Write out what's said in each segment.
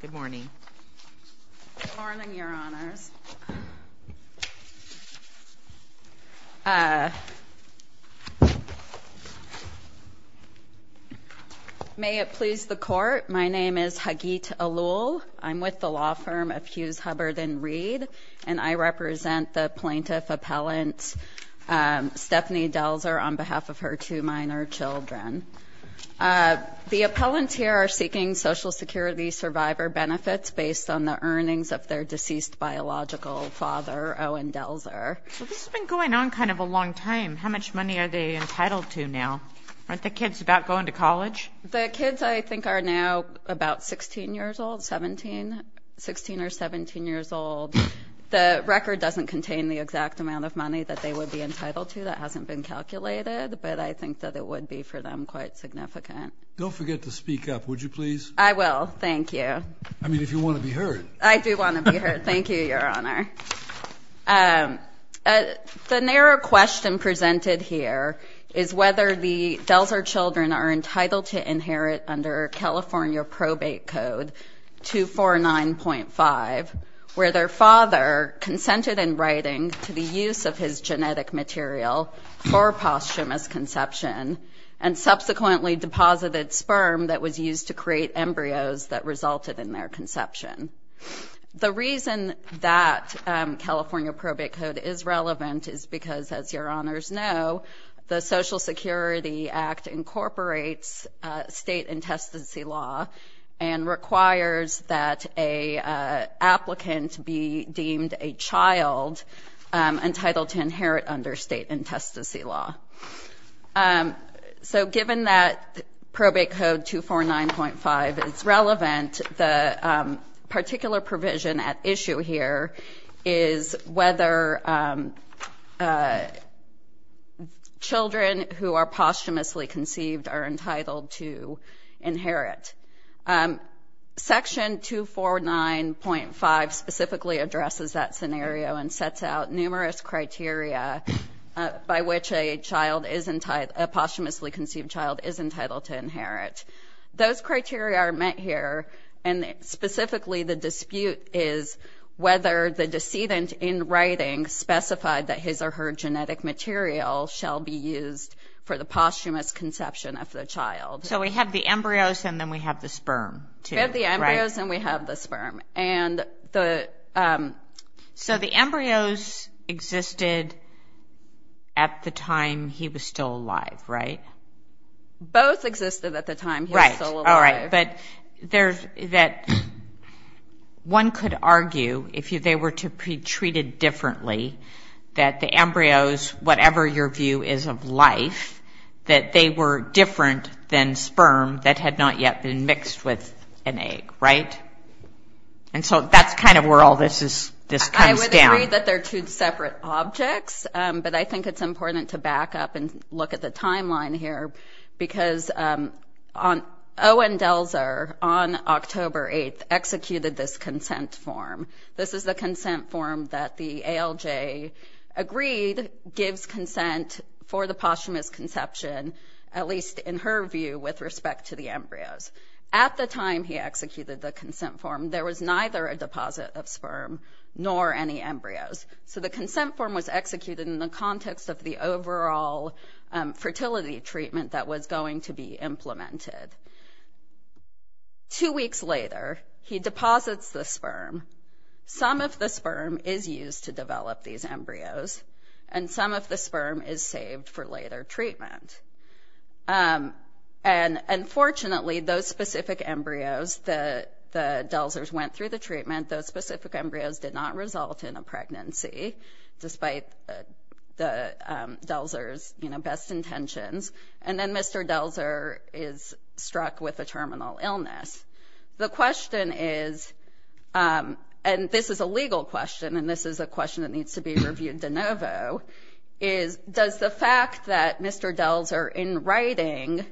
Good morning, Your Honors. May it please the Court, my name is Hageet Alul. I'm with the law firm of Hughes Hubbard and Reed, and I represent the plaintiff appellant Stephanie Delzer on behalf of her two minor children. The appellants here are seeking Social Security survivor benefits based on the earnings of their deceased biological father, Owen Delzer. So this has been going on kind of a long time. How much money are they entitled to now? Aren't the kids about going to college? The kids I think are now about 16 years old, 17, 16 or 17 years old. The record doesn't contain the exact amount of money that they would be entitled to. That hasn't been calculated, but I think that it would be for them quite significant. Don't forget to speak up, would you please? I will. Thank you. I mean, if you want to be heard. I do want to be heard. Thank you, Your Honor. The narrow question presented here is whether the Delzer children are entitled to inherit under California Probate Code 249.5, where their father consented in writing to the use of his genetic material for posthumous conception and subsequently deposited sperm that was used to create embryos that resulted in their conception. The reason that California Probate Code is relevant is because, as Your Honors know, the Social Security Act incorporates state intestacy law and requires that an applicant be deemed a child entitled to inherit under state intestacy law. So given that Probate Code 249.5 is relevant, the particular provision at issue here is whether children who are posthumously conceived are entitled to inherit. Section 249.5 specifically addresses that scenario and sets out numerous criteria by which a posthumously conceived child is entitled to inherit. Those criteria are met here, and specifically the dispute is whether the decedent, in writing, specified that his or her genetic material shall be used for the posthumous conception of the child. So we have the embryos and then we have the sperm, too, right? We have the embryos and we have the sperm. So the embryos existed at the time he was still alive, right? Both existed at the time he was still alive. Right, all right. But one could argue, if they were to be treated differently, that the embryos, whatever your view is of life, that they were different than sperm that had not yet been mixed with an egg, right? And so that's kind of where all this comes down. I would agree that they're two separate objects, but I think it's important to back up and look at the timeline here, because Owen Delzer, on October 8th, executed this consent form. This is the consent form that the ALJ agreed gives consent for the posthumous conception, at least in her view, with respect to the embryos. At the time he executed the consent form, there was neither a deposit of sperm nor any embryos. So the consent form was executed in the context of the overall fertility treatment that was going to be implemented. Two weeks later, he deposits the sperm. Some of the sperm is used to develop these embryos, and some of the sperm is saved for later treatment. And unfortunately, those specific embryos, the Delzers went through the treatment. Those specific embryos did not result in a pregnancy, despite the Delzers' best intentions. And then Mr. Delzer is struck with a terminal illness. The question is, and this is a legal question, and this is a question that needs to be reviewed de novo, is does the fact that Mr. Delzer, in writing,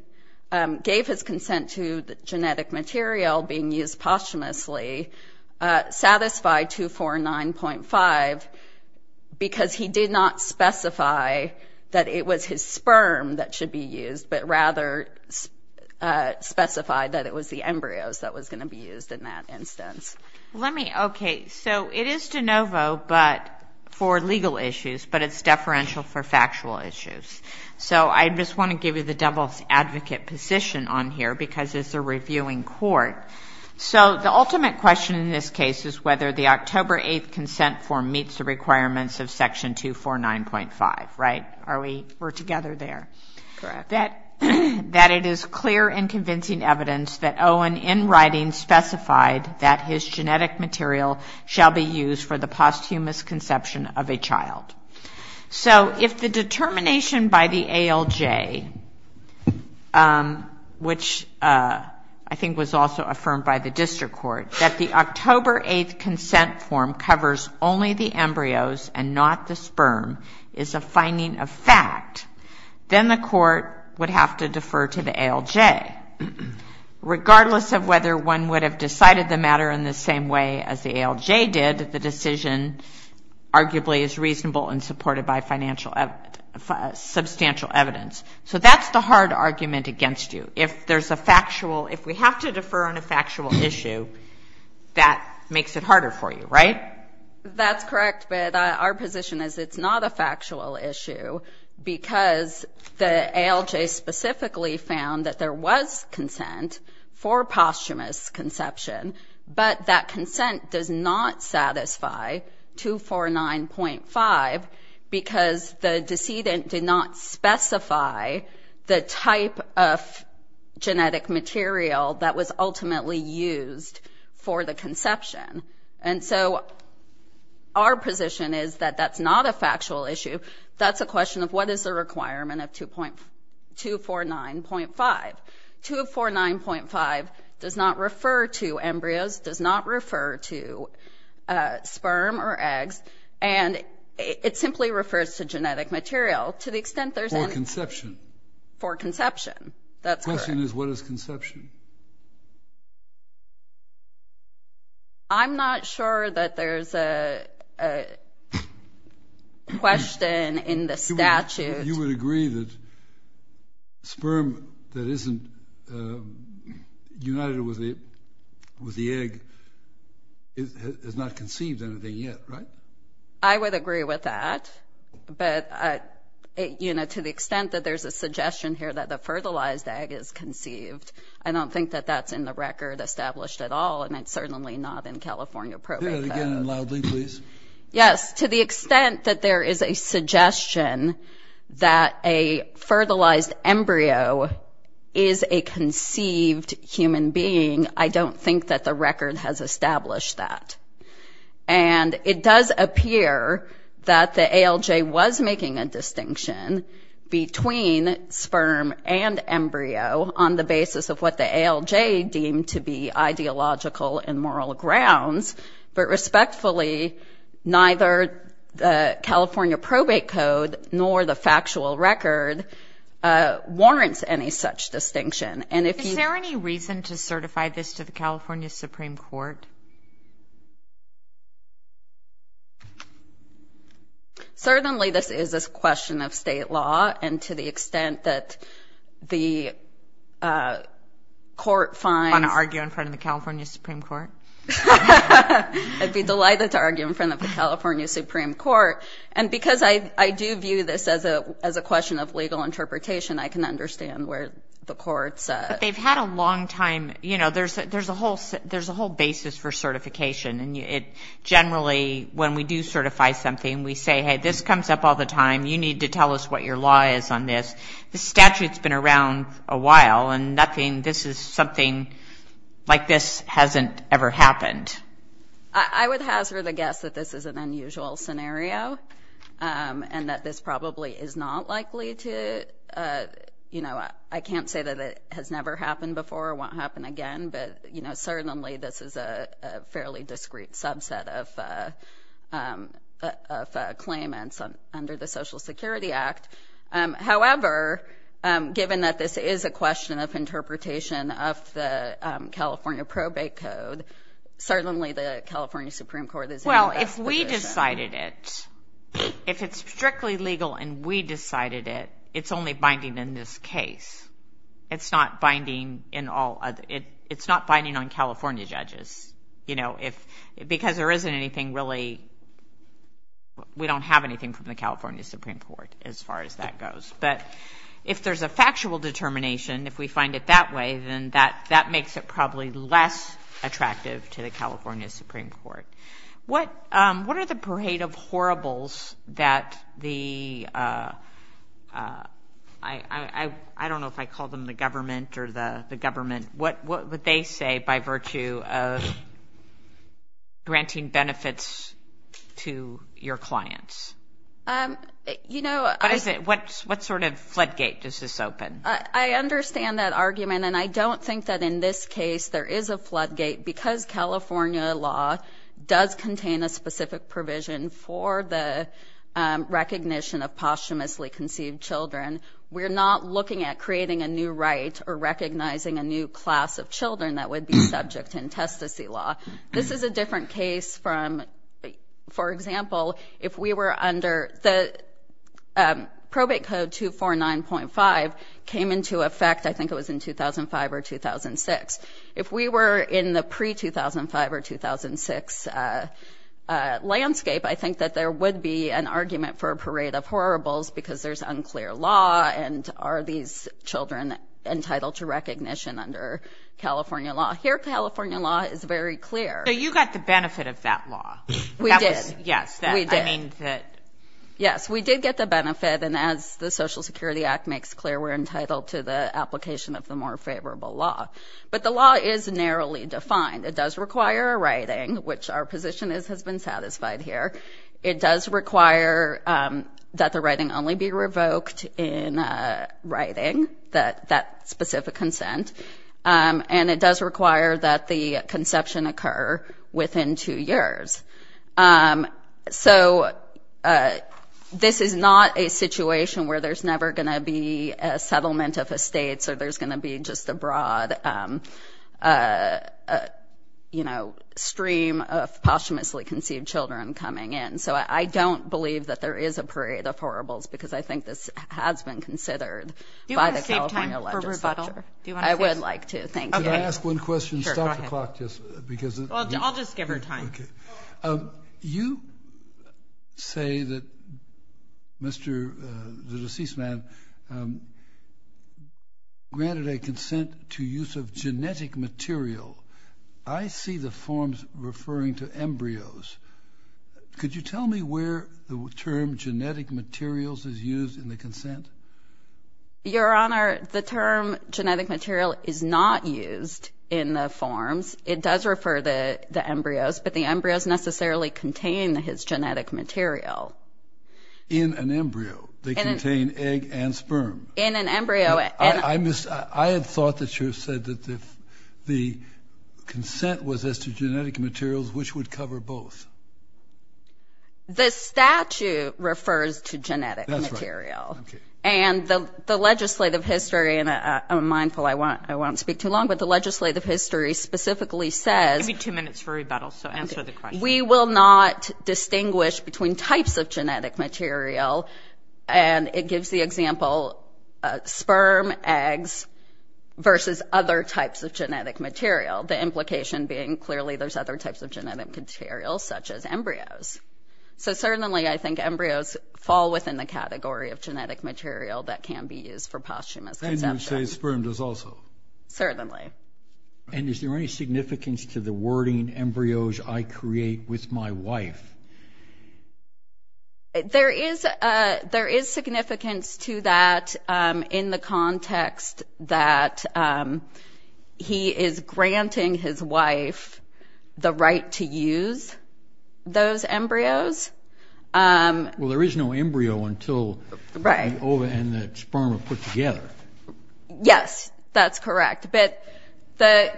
gave his consent to the genetic material being used posthumously, satisfy 249.5, because he did not specify that it was his sperm that should be used, but rather specified that it was the embryos that was going to be used in that instance? Let me, okay, so it is de novo, but for legal issues, but it's deferential for factual issues. So I just want to give you the devil's advocate position on here, because it's a reviewing court. So the ultimate question in this case is whether the October 8th consent form meets the requirements of Section 249.5, right? Are we, we're together there. That it is clear and convincing evidence that Owen, in writing, specified that his genetic material shall be used for the posthumous conception of a child. So if the determination by the ALJ, which I think was also affirmed by the district court, that the October 8th consent form covers only the embryos and not the sperm, is a finding of fact, then the court would have to defer to the ALJ. Regardless of whether one would have decided the matter in the same way as the ALJ did, the decision arguably is reasonable and supported by financial, substantial evidence. So that's the hard argument against you. If there's a factual, if we have to defer on a factual issue, that makes it harder for you, right? That's correct, but our position is it's not a factual issue, because the ALJ specifically found that there was consent for posthumous conception, but that consent does not satisfy 249.5, because the decedent did not specify the type of genetic material that was ultimately used for the conception. And so our position is that that's not a factual issue. That's a question of what is the requirement of 249.5. 249.5 does not refer to embryos, does not refer to sperm or eggs, and it simply refers to genetic material to the extent there's any... For conception. For conception, that's correct. The question is what is conception. I'm not sure that there's a question in the statute... United with the egg has not conceived anything yet, right? I would agree with that, but, you know, to the extent that there's a suggestion here that the fertilized egg is conceived, I don't think that that's in the record established at all, and it's certainly not in California Probate Code. Say that again loudly, please. Yes, to the extent that there is a suggestion that a fertilized embryo is a conceived human being, I don't think that the record has established that. And it does appear that the ALJ was making a distinction between sperm and embryo on the basis of what the ALJ deemed to be ideological and moral grounds, but respectfully, neither the California Probate Code nor the factual record warrants any such distinction. And if you... Is there any reason to certify this to the California Supreme Court? Certainly this is a question of state law, and to the extent that the court finds... Would you like to argue in front of the California Supreme Court? I'd be delighted to argue in front of the California Supreme Court. And because I do view this as a question of legal interpretation, I can understand where the court's... But they've had a long time. You know, there's a whole basis for certification, and generally when we do certify something, we say, hey, this comes up all the time. You need to tell us what your law is on this. This statute's been around a while, and nothing... This is something like this hasn't ever happened. I would hazard a guess that this is an unusual scenario and that this probably is not likely to... You know, I can't say that it has never happened before or won't happen again, but certainly this is a fairly discrete subset of claimants under the Social Security Act. However, given that this is a question of interpretation of the California probate code, certainly the California Supreme Court is in a better position. Well, if we decided it, if it's strictly legal and we decided it, it's only binding in this case. It's not binding in all... It's not binding on California judges, you know, because there isn't anything really... As far as that goes. But if there's a factual determination, if we find it that way, then that makes it probably less attractive to the California Supreme Court. What are the parade of horribles that the... I don't know if I call them the government or the government. What would they say by virtue of granting benefits to your clients? You know, I... What sort of floodgate does this open? I understand that argument, and I don't think that in this case there is a floodgate because California law does contain a specific provision for the recognition of posthumously conceived children. We're not looking at creating a new right or recognizing a new class of children that would be subject to intestacy law. This is a different case from... For example, if we were under... The probate code 249.5 came into effect, I think it was in 2005 or 2006. If we were in the pre-2005 or 2006 landscape, I think that there would be an argument for a parade of horribles because there's unclear law and are these children entitled to recognition under California law. Here, California law is very clear. So you got the benefit of that law. We did. Yes, I mean that... Yes, we did get the benefit, and as the Social Security Act makes clear, we're entitled to the application of the more favorable law. But the law is narrowly defined. It does require a writing, which our position has been satisfied here. It does require that the writing only be revoked in writing, that specific consent. And it does require that the conception occur within two years. So this is not a situation where there's never going to be a settlement of estates or there's going to be just a broad stream of posthumously conceived children coming in. So I don't believe that there is a parade of horribles because I think this has been considered by the California legislature. Do you want to say something? I would like to, thank you. Can I ask one question? Sure, go ahead. I'll just give her time. You say that the deceased man granted a consent to use of genetic material. I see the forms referring to embryos. Could you tell me where the term genetic materials is used in the consent? Your Honor, the term genetic material is not used in the forms. It does refer to the embryos, but the embryos necessarily contain his genetic material. In an embryo, they contain egg and sperm. In an embryo. I had thought that you said that the consent was as to genetic materials, which would cover both. The statute refers to genetic material. Okay. And the legislative history, and I'm mindful I won't speak too long, but the legislative history specifically says Give me two minutes for rebuttal, so answer the question. We will not distinguish between types of genetic material, and it gives the example sperm, eggs, versus other types of genetic material, the implication being clearly there's other types of genetic material, such as embryos. So certainly, I think embryos fall within the category of genetic material that can be used for posthumous consent. And you would say sperm does also. Certainly. And is there any significance to the wording embryos I create with my wife? There is significance to that in the context that he is granting his wife the right to use those embryos. Well, there is no embryo until the ova and the sperm are put together. Yes, that's correct. But the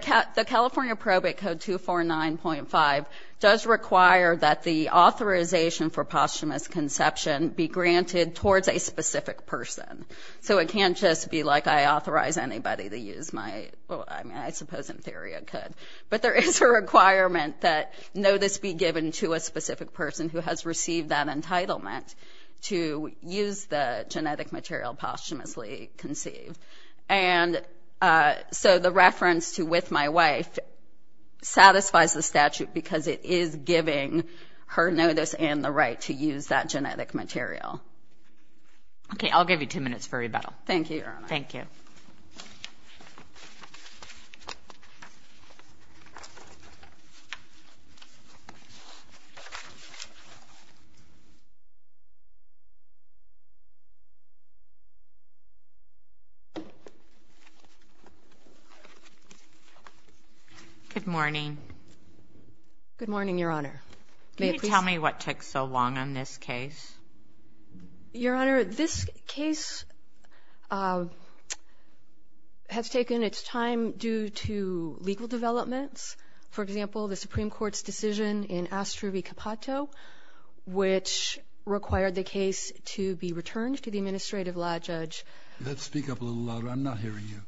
California Probate Code 249.5 does require that the authorization for posthumous conception be granted towards a specific person. So it can't just be like I authorize anybody to use my ‑‑ well, I suppose in theory I could, but there is a requirement that notice be given to a specific person who has received that entitlement to use the genetic material posthumously conceived. And so the reference to with my wife satisfies the statute because it is giving her notice and the right to use that genetic material. Okay, I'll give you two minutes for rebuttal. Thank you, Your Honor. Thank you. Good morning. Good morning, Your Honor. Can you tell me what took so long on this case? Your Honor, this case has taken its time due to legal developments. For example, the Supreme Court's decision in Astrovi Kapato, which required the case to be returned to the administrative law judge. You have to speak up a little louder. I'm not hearing you.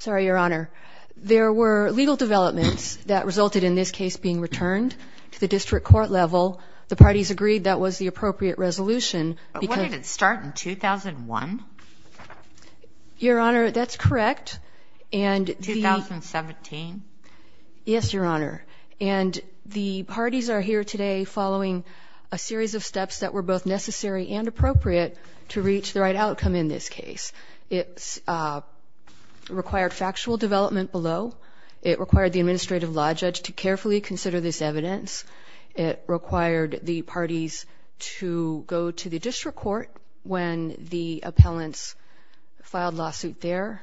Sorry, Your Honor. There were legal developments that resulted in this case being returned to the district court level. The parties agreed that was the appropriate resolution. But wouldn't it start in 2001? Your Honor, that's correct. 2017? Yes, Your Honor. And the parties are here today following a series of steps that were both necessary and appropriate to reach the right outcome in this case. It required factual development below. It required the administrative law judge to carefully consider this evidence. It required the parties to go to the district court when the appellants filed lawsuit there.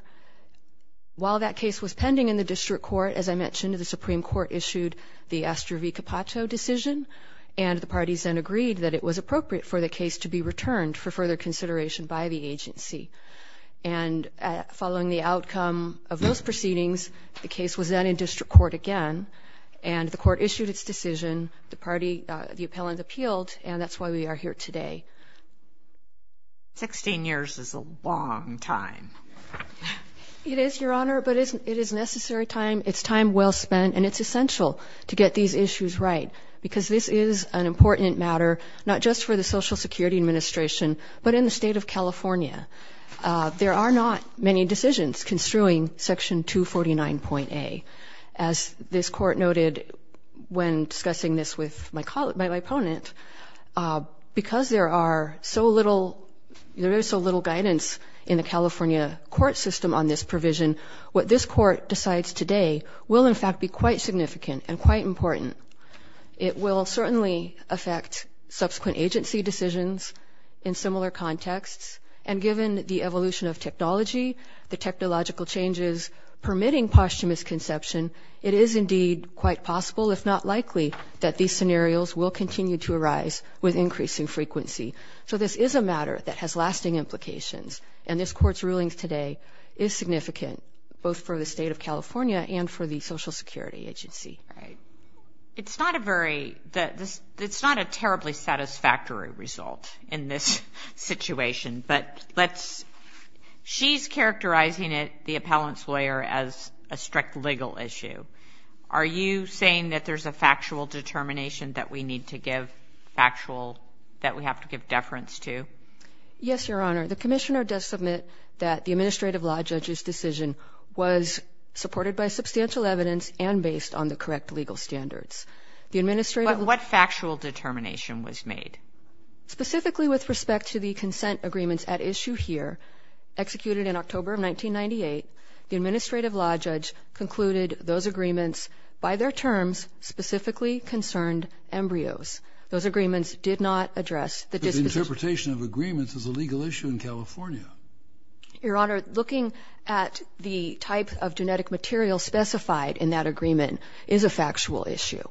While that case was pending in the district court, as I mentioned, the Supreme Court issued the Astrovi Kapato decision, and the parties then agreed that it was appropriate for the case to be returned for further consideration by the agency. And following the outcome of those proceedings, the case was then in district court again, and the court issued its decision. The appellant appealed, and that's why we are here today. Sixteen years is a long time. It is, Your Honor, but it is necessary time. It's time well spent, and it's essential to get these issues right because this is an important matter not just for the Social Security Administration, but in the state of California. There are not many decisions construing Section 249.A. As this court noted when discussing this with my opponent, because there is so little guidance in the California court system on this provision, what this court decides today will in fact be quite significant and quite important. It will certainly affect subsequent agency decisions in similar contexts, and given the evolution of technology, the technological changes permitting posthumous conception, it is indeed quite possible, if not likely, that these scenarios will continue to arise with increasing frequency. So this is a matter that has lasting implications, and this court's ruling today is significant both for the state of California and for the Social Security Agency. It's not a terribly satisfactory result in this situation, but she's characterizing it, the appellant's lawyer, as a strict legal issue. Are you saying that there's a factual determination that we need to give factual, that we have to give deference to? Yes, Your Honor. The commissioner does submit that the administrative law judge's decision was supported by substantial evidence and based on the correct legal standards. But what factual determination was made? Specifically with respect to the consent agreements at issue here, executed in October of 1998, the administrative law judge concluded those agreements, by their terms, specifically concerned embryos. Those agreements did not address the disposition. The interpretation of agreements is a legal issue in California. Your Honor, looking at the type of genetic material specified in that agreement is a factual issue.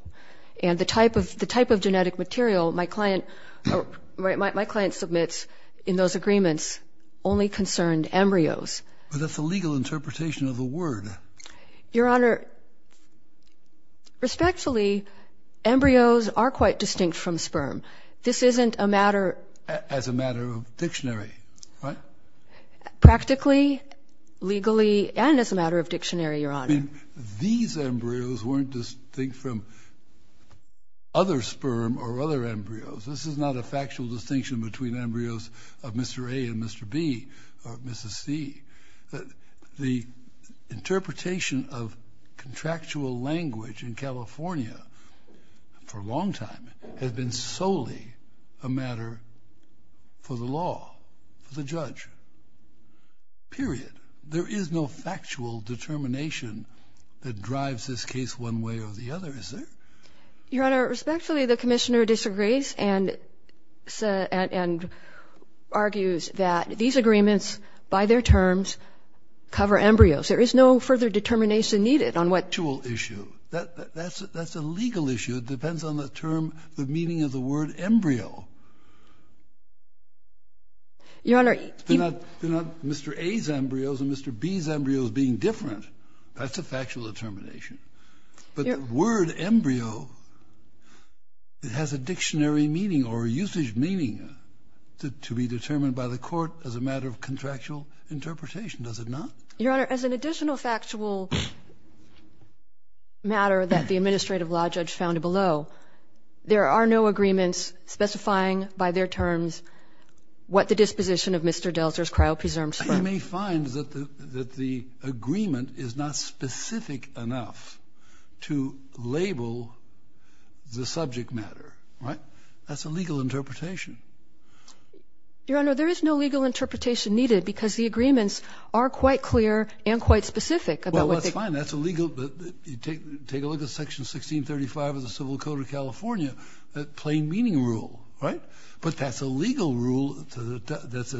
And the type of genetic material my client submits in those agreements only concerned embryos. But that's a legal interpretation of the word. Your Honor, respectfully, embryos are quite distinct from sperm. This isn't a matter. As a matter of dictionary, right? Practically, legally, and as a matter of dictionary, Your Honor. These embryos weren't distinct from other sperm or other embryos. This is not a factual distinction between embryos of Mr. A and Mr. B or Mrs. C. The interpretation of contractual language in California, for a long time, has been solely a matter for the law, for the judge. Period. There is no factual determination that drives this case one way or the other, is there? Your Honor, respectfully, the Commissioner disagrees and argues that these agreements, by their terms, cover embryos. There is no further determination needed on what ---- Factual issue. That's a legal issue. It depends on the term, the meaning of the word embryo. Your Honor, even ---- They're not Mr. A's embryos and Mr. B's embryos being different. That's a factual determination. But the word embryo has a dictionary meaning or a usage meaning to be determined by the court as a matter of contractual interpretation. Does it not? Your Honor, as an additional factual matter that the administrative law judge found below, there are no agreements specifying, by their terms, what the disposition of Mr. Delser's cryopreserved sperm ---- You may find that the agreement is not specific enough to label the subject matter, right? That's a legal interpretation. Your Honor, there is no legal interpretation needed because the agreements are quite clear and quite specific about what they ---- Well, that's fine. That's a legal ---- Take a look at Section 1635 of the Civil Code of California, the plain meaning rule, right? But that's a legal rule that's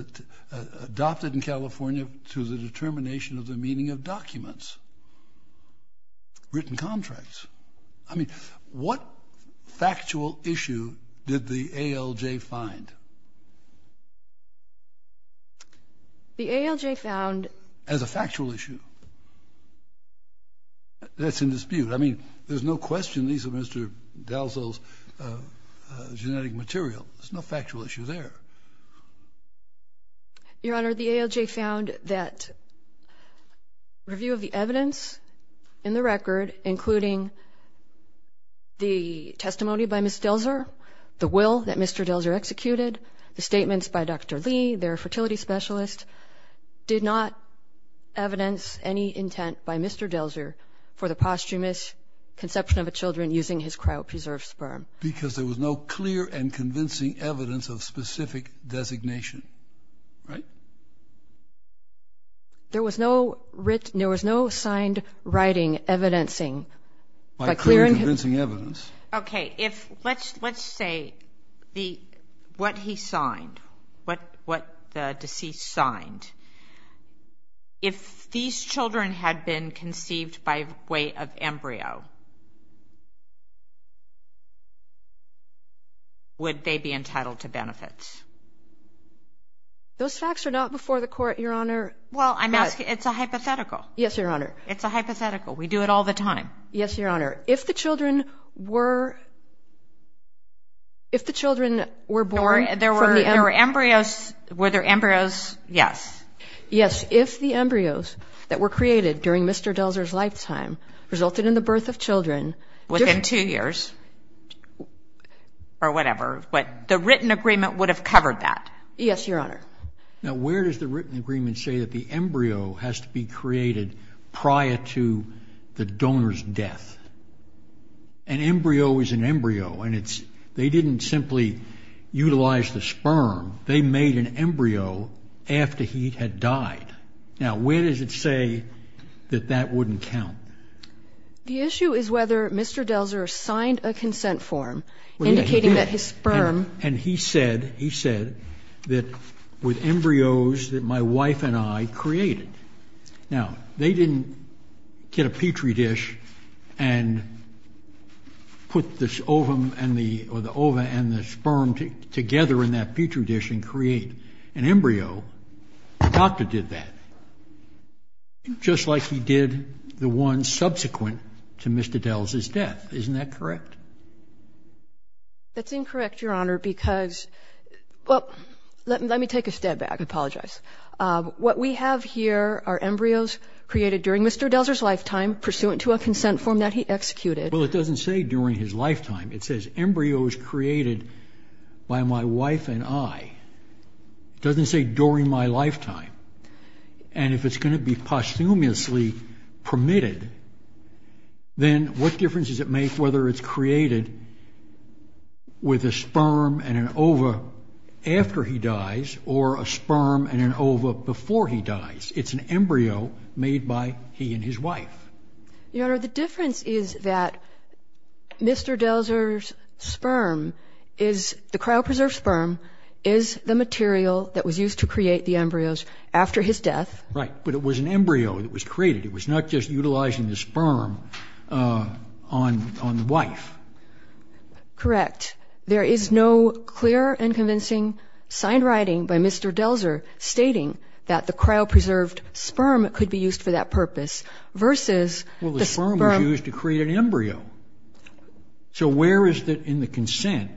adopted in California to the determination of the meaning of documents, written contracts. I mean, what factual issue did the ALJ find? The ALJ found ---- As a factual issue. That's in dispute. I mean, there's no question these are Mr. Delser's genetic material. There's no factual issue there. Your Honor, the ALJ found that review of the evidence in the record, including the testimony by Mr. Delser, the will that Mr. Delser executed, the statements by Dr. Lee, their fertility specialist, did not evidence any intent by Mr. Delser for the posthumous conception of the children using his cryopreserved sperm. Because there was no clear and convincing evidence of specific designation, right? There was no written ---- There was no signed writing evidencing by clearing ---- By clear and convincing evidence. Okay. Let's say what he signed, what the deceased signed, if these children had been conceived by way of embryo, would they be entitled to benefits? Those facts are not before the Court, Your Honor. Well, I'm asking ---- It's a hypothetical. Yes, Your Honor. It's a hypothetical. We do it all the time. Yes, Your Honor. If the children were born from the embryo ---- There were embryos. Were there embryos? Yes. Yes. If the embryos that were created during Mr. Delser's lifetime resulted in the birth of children ---- Within two years. Or whatever. But the written agreement would have covered that. Yes, Your Honor. Now, where does the written agreement say that the embryo has to be created prior to the donor's death? An embryo is an embryo, and they didn't simply utilize the sperm. They made an embryo after he had died. Now, where does it say that that wouldn't count? The issue is whether Mr. Delser signed a consent form indicating that his sperm ---- with embryos that my wife and I created. Now, they didn't get a Petri dish and put the ovum and the ---- or the ova and the sperm together in that Petri dish and create an embryo. The doctor did that, just like he did the one subsequent to Mr. Delser's death. Isn't that correct? That's incorrect, Your Honor, because ---- Well, let me take a step back. I apologize. What we have here are embryos created during Mr. Delser's lifetime pursuant to a consent form that he executed. Well, it doesn't say during his lifetime. It says embryos created by my wife and I. It doesn't say during my lifetime. And if it's going to be posthumously permitted, then what difference does it make whether it's created with a sperm and an ova after he dies or a sperm and an ova before he dies? It's an embryo made by he and his wife. Your Honor, the difference is that Mr. Delser's sperm is ---- the cryopreserved sperm is the material that was used to create the embryos after his death. Right, but it was an embryo that was created. It was not just utilizing the sperm on the wife. Correct. There is no clear and convincing signed writing by Mr. Delser stating that the cryopreserved sperm could be used for that purpose versus the sperm ---- Well, the sperm was used to create an embryo. So where is it in the consent?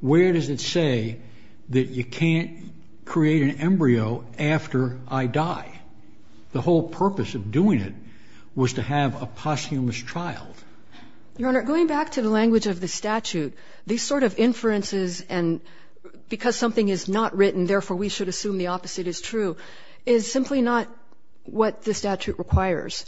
Where does it say that you can't create an embryo after I die? The whole purpose of doing it was to have a posthumous child. Your Honor, going back to the language of the statute, these sort of inferences and because something is not written, therefore we should assume the opposite is true, is simply not what the statute requires.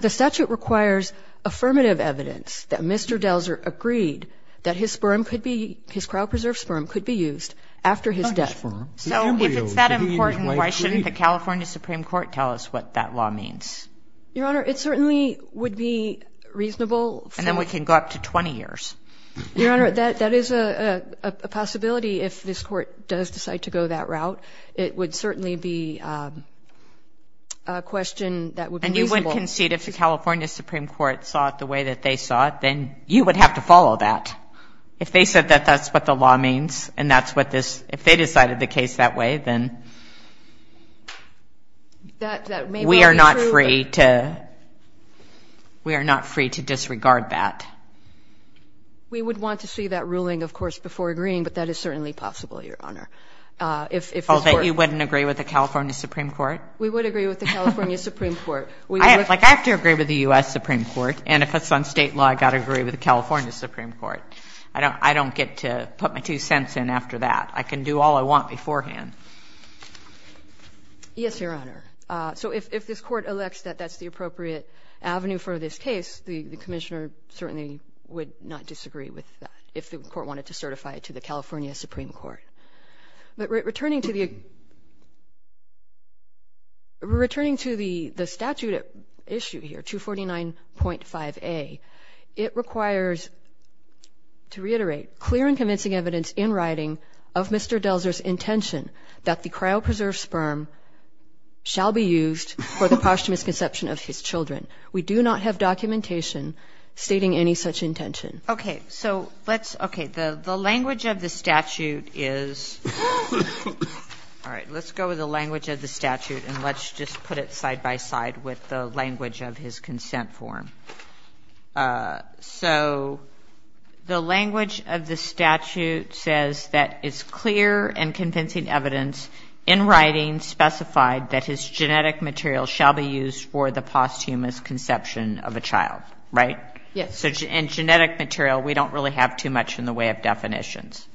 The statute requires affirmative evidence that Mr. Delser agreed that his sperm could be ---- his cryopreserved sperm could be used after his death. So if it's that important, why shouldn't the California Supreme Court tell us what that law means? Your Honor, it certainly would be reasonable for ---- And then we can go up to 20 years. Your Honor, that is a possibility if this Court does decide to go that route. It would certainly be a question that would be reasonable ---- And you would concede if the California Supreme Court saw it the way that they saw it, then you would have to follow that. If they said that that's what the law means and that's what this ---- if they decided the case that way, then we are not free to disregard that. We would want to see that ruling, of course, before agreeing, but that is certainly possible, Your Honor. Oh, that you wouldn't agree with the California Supreme Court? We would agree with the California Supreme Court. I have to agree with the U.S. Supreme Court, and if it's on State law, I've got to agree with the California Supreme Court. I don't get to put my two cents in after that. I can do all I want beforehand. Yes, Your Honor. So if this Court elects that that's the appropriate avenue for this case, the Commissioner certainly would not disagree with that, if the Court wanted to certify it to the California Supreme Court. But returning to the statute at issue here, 249.5a, it requires to reiterate clear and convincing evidence in writing of Mr. Delzer's intention that the cryopreserved sperm shall be used for the posthumous conception of his children. We do not have documentation stating any such intention. Okay. So let's – okay. The language of the statute is – all right. Let's go with the language of the statute, and let's just put it side by side with the language of his consent form. So the language of the statute says that it's clear and convincing evidence in writing specified that his genetic material shall be used for the posthumous conception of a child, right? Yes. So in genetic material, we don't really have too much in the way of definitions.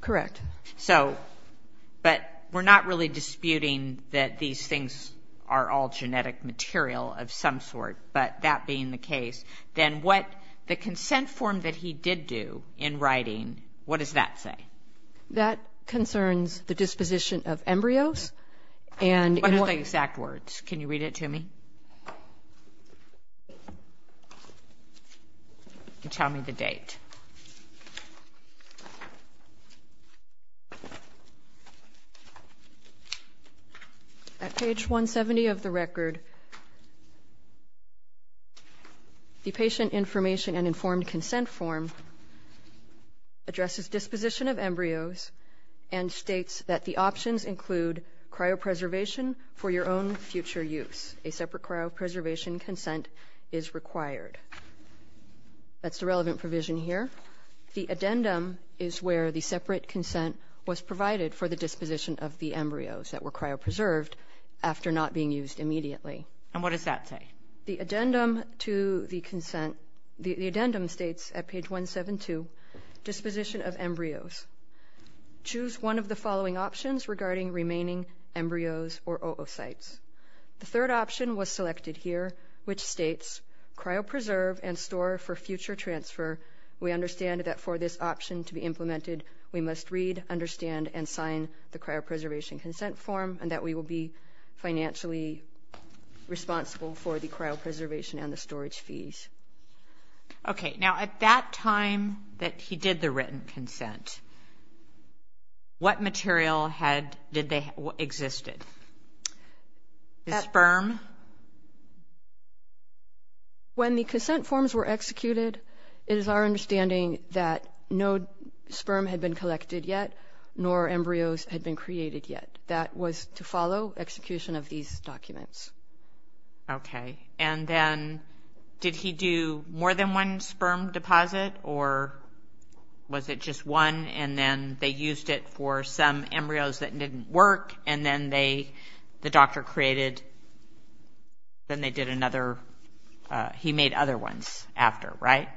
Correct. So – but we're not really disputing that these things are all genetic material of some sort, but that being the case, then what the consent form that he did do in writing, what does that say? That concerns the disposition of embryos. What are the exact words? Can you read it to me? Tell me the date. At page 170 of the record, the patient information and informed consent form addresses disposition of embryos and states that the options include cryopreservation for your own future use. A separate cryopreservation consent is required. That's the relevant provision here. The addendum is where the separate consent was provided for the disposition of the embryos that were cryopreserved after not being used immediately. And what does that say? The addendum to the consent – the addendum states at page 172 disposition of embryos. Choose one of the following options regarding remaining embryos or oocytes. The third option was selected here, which states cryopreserve and store for future transfer. We understand that for this option to be implemented, we must read, understand, and sign the cryopreservation consent form, and that we will be financially responsible for the cryopreservation and the storage fees. Okay, now at that time that he did the written consent, what material existed? The sperm? When the consent forms were executed, it is our understanding that no sperm had been collected yet, nor embryos had been created yet. That was to follow execution of these documents. Okay, and then did he do more than one sperm deposit, or was it just one, and then they used it for some embryos that didn't work, and then the doctor created – then they did another – he made other ones after, right?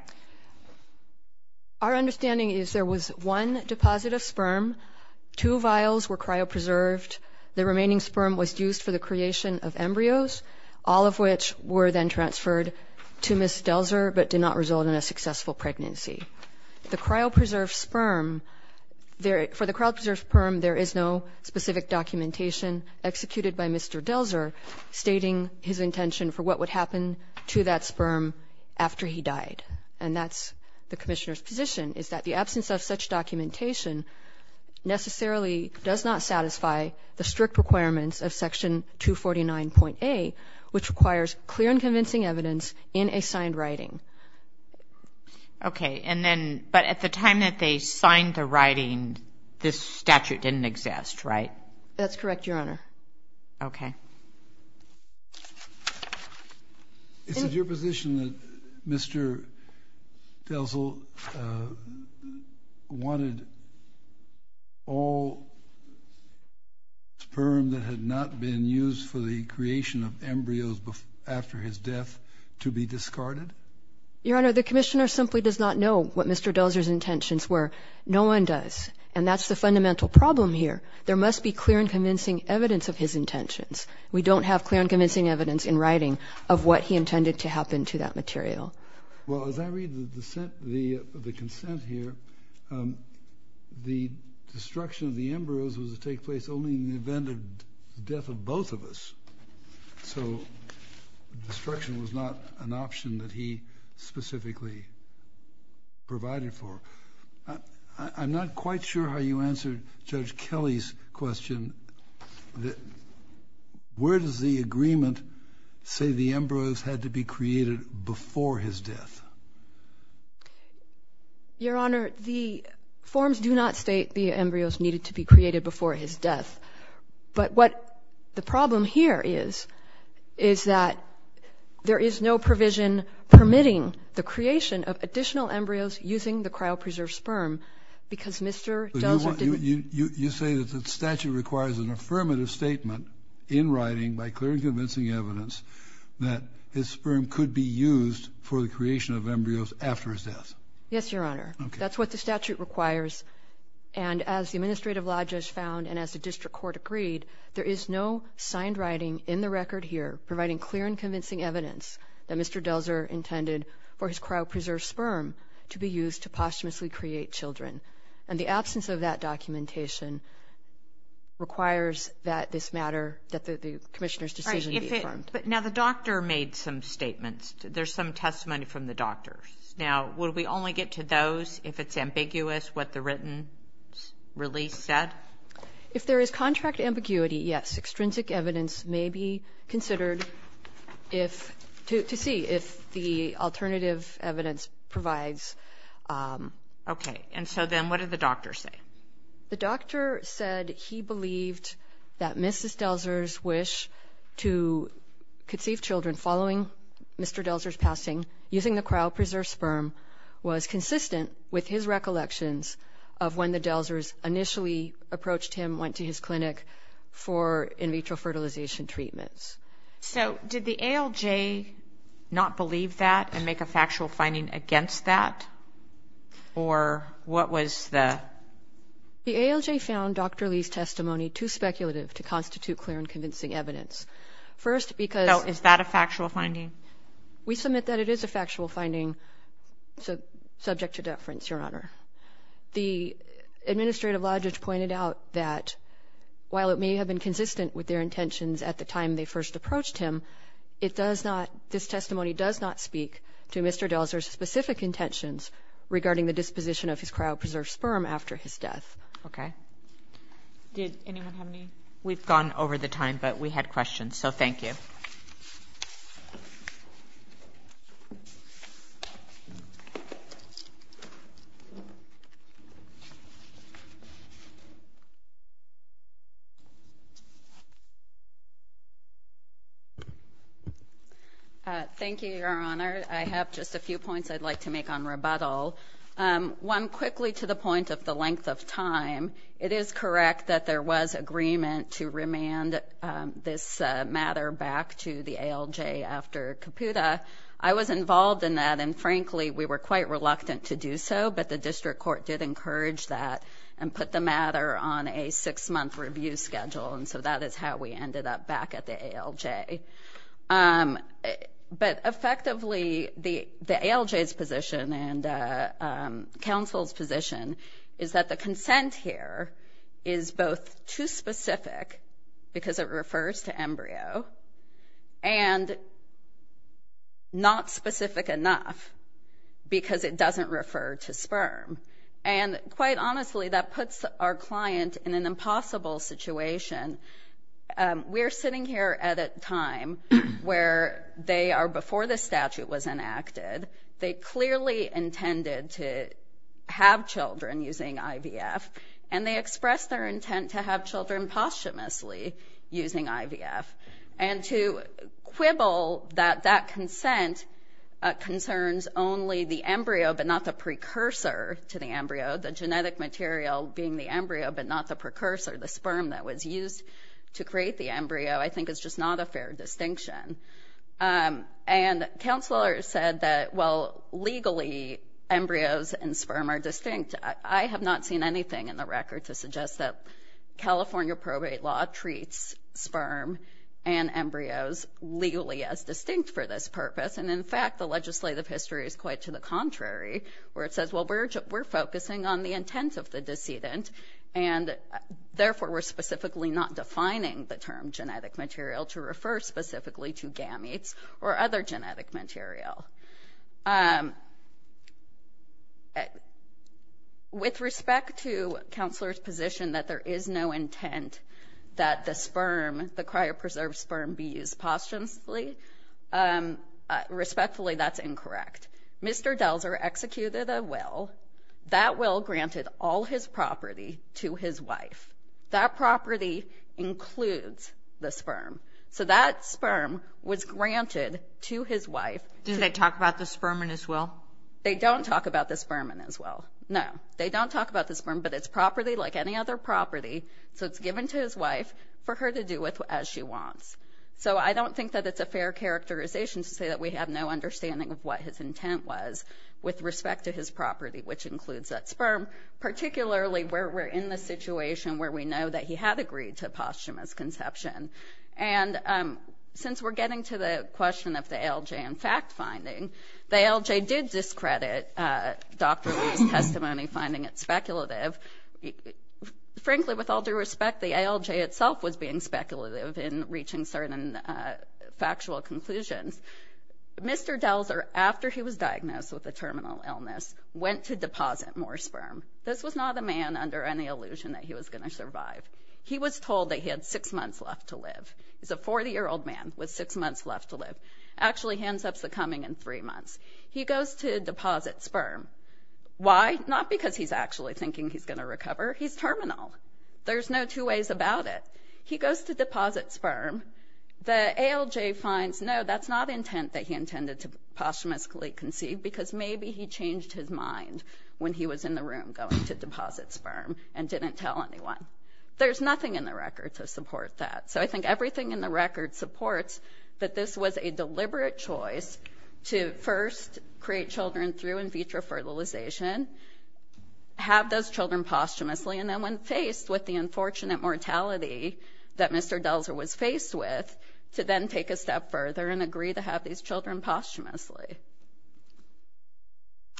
Two vials were cryopreserved. The remaining sperm was used for the creation of embryos, all of which were then transferred to Ms. Delzer but did not result in a successful pregnancy. The cryopreserved sperm – for the cryopreserved sperm, there is no specific documentation executed by Mr. Delzer stating his intention for what would happen to that sperm after he died, and that's the commissioner's position, is that the absence of such documentation necessarily does not satisfy the strict requirements of Section 249.A, which requires clear and convincing evidence in a signed writing. Okay, and then – but at the time that they signed the writing, this statute didn't exist, right? That's correct, Your Honor. Okay. Is it your position that Mr. Delzer wanted all sperm that had not been used for the creation of embryos after his death to be discarded? Your Honor, the commissioner simply does not know what Mr. Delzer's intentions were. No one does, and that's the fundamental problem here. There must be clear and convincing evidence of his intentions. We don't have clear and convincing evidence in writing of what he intended to happen to that material. Well, as I read the consent here, the destruction of the embryos was to take place only in the event of the death of both of us, so destruction was not an option that he specifically provided for. I'm not quite sure how you answered Judge Kelly's question. Where does the agreement say the embryos had to be created before his death? Your Honor, the forms do not state the embryos needed to be created before his death, but what the problem here is is that there is no provision permitting the creation of additional embryos using the cryopreserved sperm because Mr. Delzer didn't... You say that the statute requires an affirmative statement in writing by clear and convincing evidence that his sperm could be used for the creation of embryos after his death. Yes, Your Honor. That's what the statute requires, and as the Administrative Lodges found and as the District Court agreed, there is no signed writing in the record here providing clear and convincing evidence that Mr. Delzer intended for his cryopreserved sperm to be used to posthumously create children, and the absence of that documentation requires that this matter, that the Commissioner's decision be affirmed. All right, but now the doctor made some statements. There's some testimony from the doctors. Now, would we only get to those if it's ambiguous what the written release said? If there is contract ambiguity, yes. Extrinsic evidence may be considered to see if the alternative evidence provides... Okay, and so then what did the doctor say? The doctor said he believed that Mrs. Delzer's wish to conceive children following Mr. Delzer's passing using the cryopreserved sperm was consistent with his recollections of when the Delzers initially approached him, went to his clinic for in vitro fertilization treatments. So did the ALJ not believe that and make a factual finding against that, or what was the... The ALJ found Dr. Lee's testimony too speculative to constitute clear and convincing evidence. First, because... So is that a factual finding? We submit that it is a factual finding, subject to deference, Your Honor. The administrative logic pointed out that while it may have been consistent with their intentions at the time they first approached him, it does not, this testimony does not speak to Mr. Delzer's specific intentions regarding the disposition of his cryopreserved sperm after his death. Okay. Did anyone have any... We've gone over the time, but we had questions, so thank you. Thank you. Thank you, Your Honor. I have just a few points I'd like to make on rebuttal. One, quickly, to the point of the length of time, it is correct that there was agreement to remand this matter back to the ALJ after Caputa. I was involved in that, and frankly, we were quite reluctant to do so, but the district court did encourage that and put the matter on a six-month review schedule, and so that is how we ended up back at the ALJ. But effectively, the ALJ's position and counsel's position is that the consent here is both too specific because it refers to embryo and not specific enough because it doesn't refer to sperm. And quite honestly, that puts our client in an impossible situation. We are sitting here at a time where they are before the statute was enacted. They clearly intended to have children using IVF, and they expressed their intent to have children posthumously using IVF. And to quibble that that consent concerns only the embryo but not the precursor to the embryo, the genetic material being the embryo but not the precursor, the sperm that was used to create the embryo, I think is just not a fair distinction. And counselors said that, well, legally, embryos and sperm are distinct. I have not seen anything in the record to suggest that California probate law treats sperm and embryos legally as distinct for this purpose, and in fact, the legislative history is quite to the contrary, where it says, well, we're focusing on the intent of the decedent, and therefore we're specifically not defining the term genetic material to refer specifically to gametes or other genetic material. With respect to counselors' position that there is no intent that the sperm, the cryopreserved sperm, be used posthumously, respectfully, that's incorrect. Mr. Delzer executed a will. That will granted all his property to his wife. That property includes the sperm. So that sperm was granted to his wife. Did they talk about the sperm in his will? They don't talk about the sperm in his will. No, they don't talk about the sperm, but it's property like any other property, so it's given to his wife for her to do as she wants. So I don't think that it's a fair characterization to say that we have no understanding of what his intent was with respect to his property, which includes that sperm, particularly where we're in the situation where we know that he had agreed to posthumous conception. And since we're getting to the question of the ALJ and fact-finding, the ALJ did discredit Dr. Lee's testimony, finding it speculative. Frankly, with all due respect, the ALJ itself was being speculative in reaching certain factual conclusions. Mr. Delzer, after he was diagnosed with a terminal illness, went to deposit more sperm. This was not a man under any illusion that he was going to survive. He was told that he had six months left to live. He's a 40-year-old man with six months left to live. Actually hands up's the coming in three months. He goes to deposit sperm. Why? Not because he's actually thinking he's going to recover. He's terminal. There's no two ways about it. He goes to deposit sperm. The ALJ finds, no, that's not intent that he intended to posthumously conceive because maybe he changed his mind when he was in the room going to deposit sperm and didn't tell anyone. There's nothing in the record to support that. So I think everything in the record supports that this was a deliberate choice to first create children through in vitro fertilization, have those children posthumously, and then when faced with the unfortunate mortality that Mr. Delzer was faced with, to then take a step further and agree to have these children posthumously.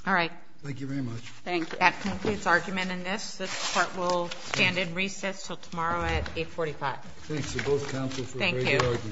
All right. Thank you very much. That concludes argument in this. This court will stand in recess until tomorrow at 845. Thanks to both counsel for a great argument. Thank you. That was very helpful.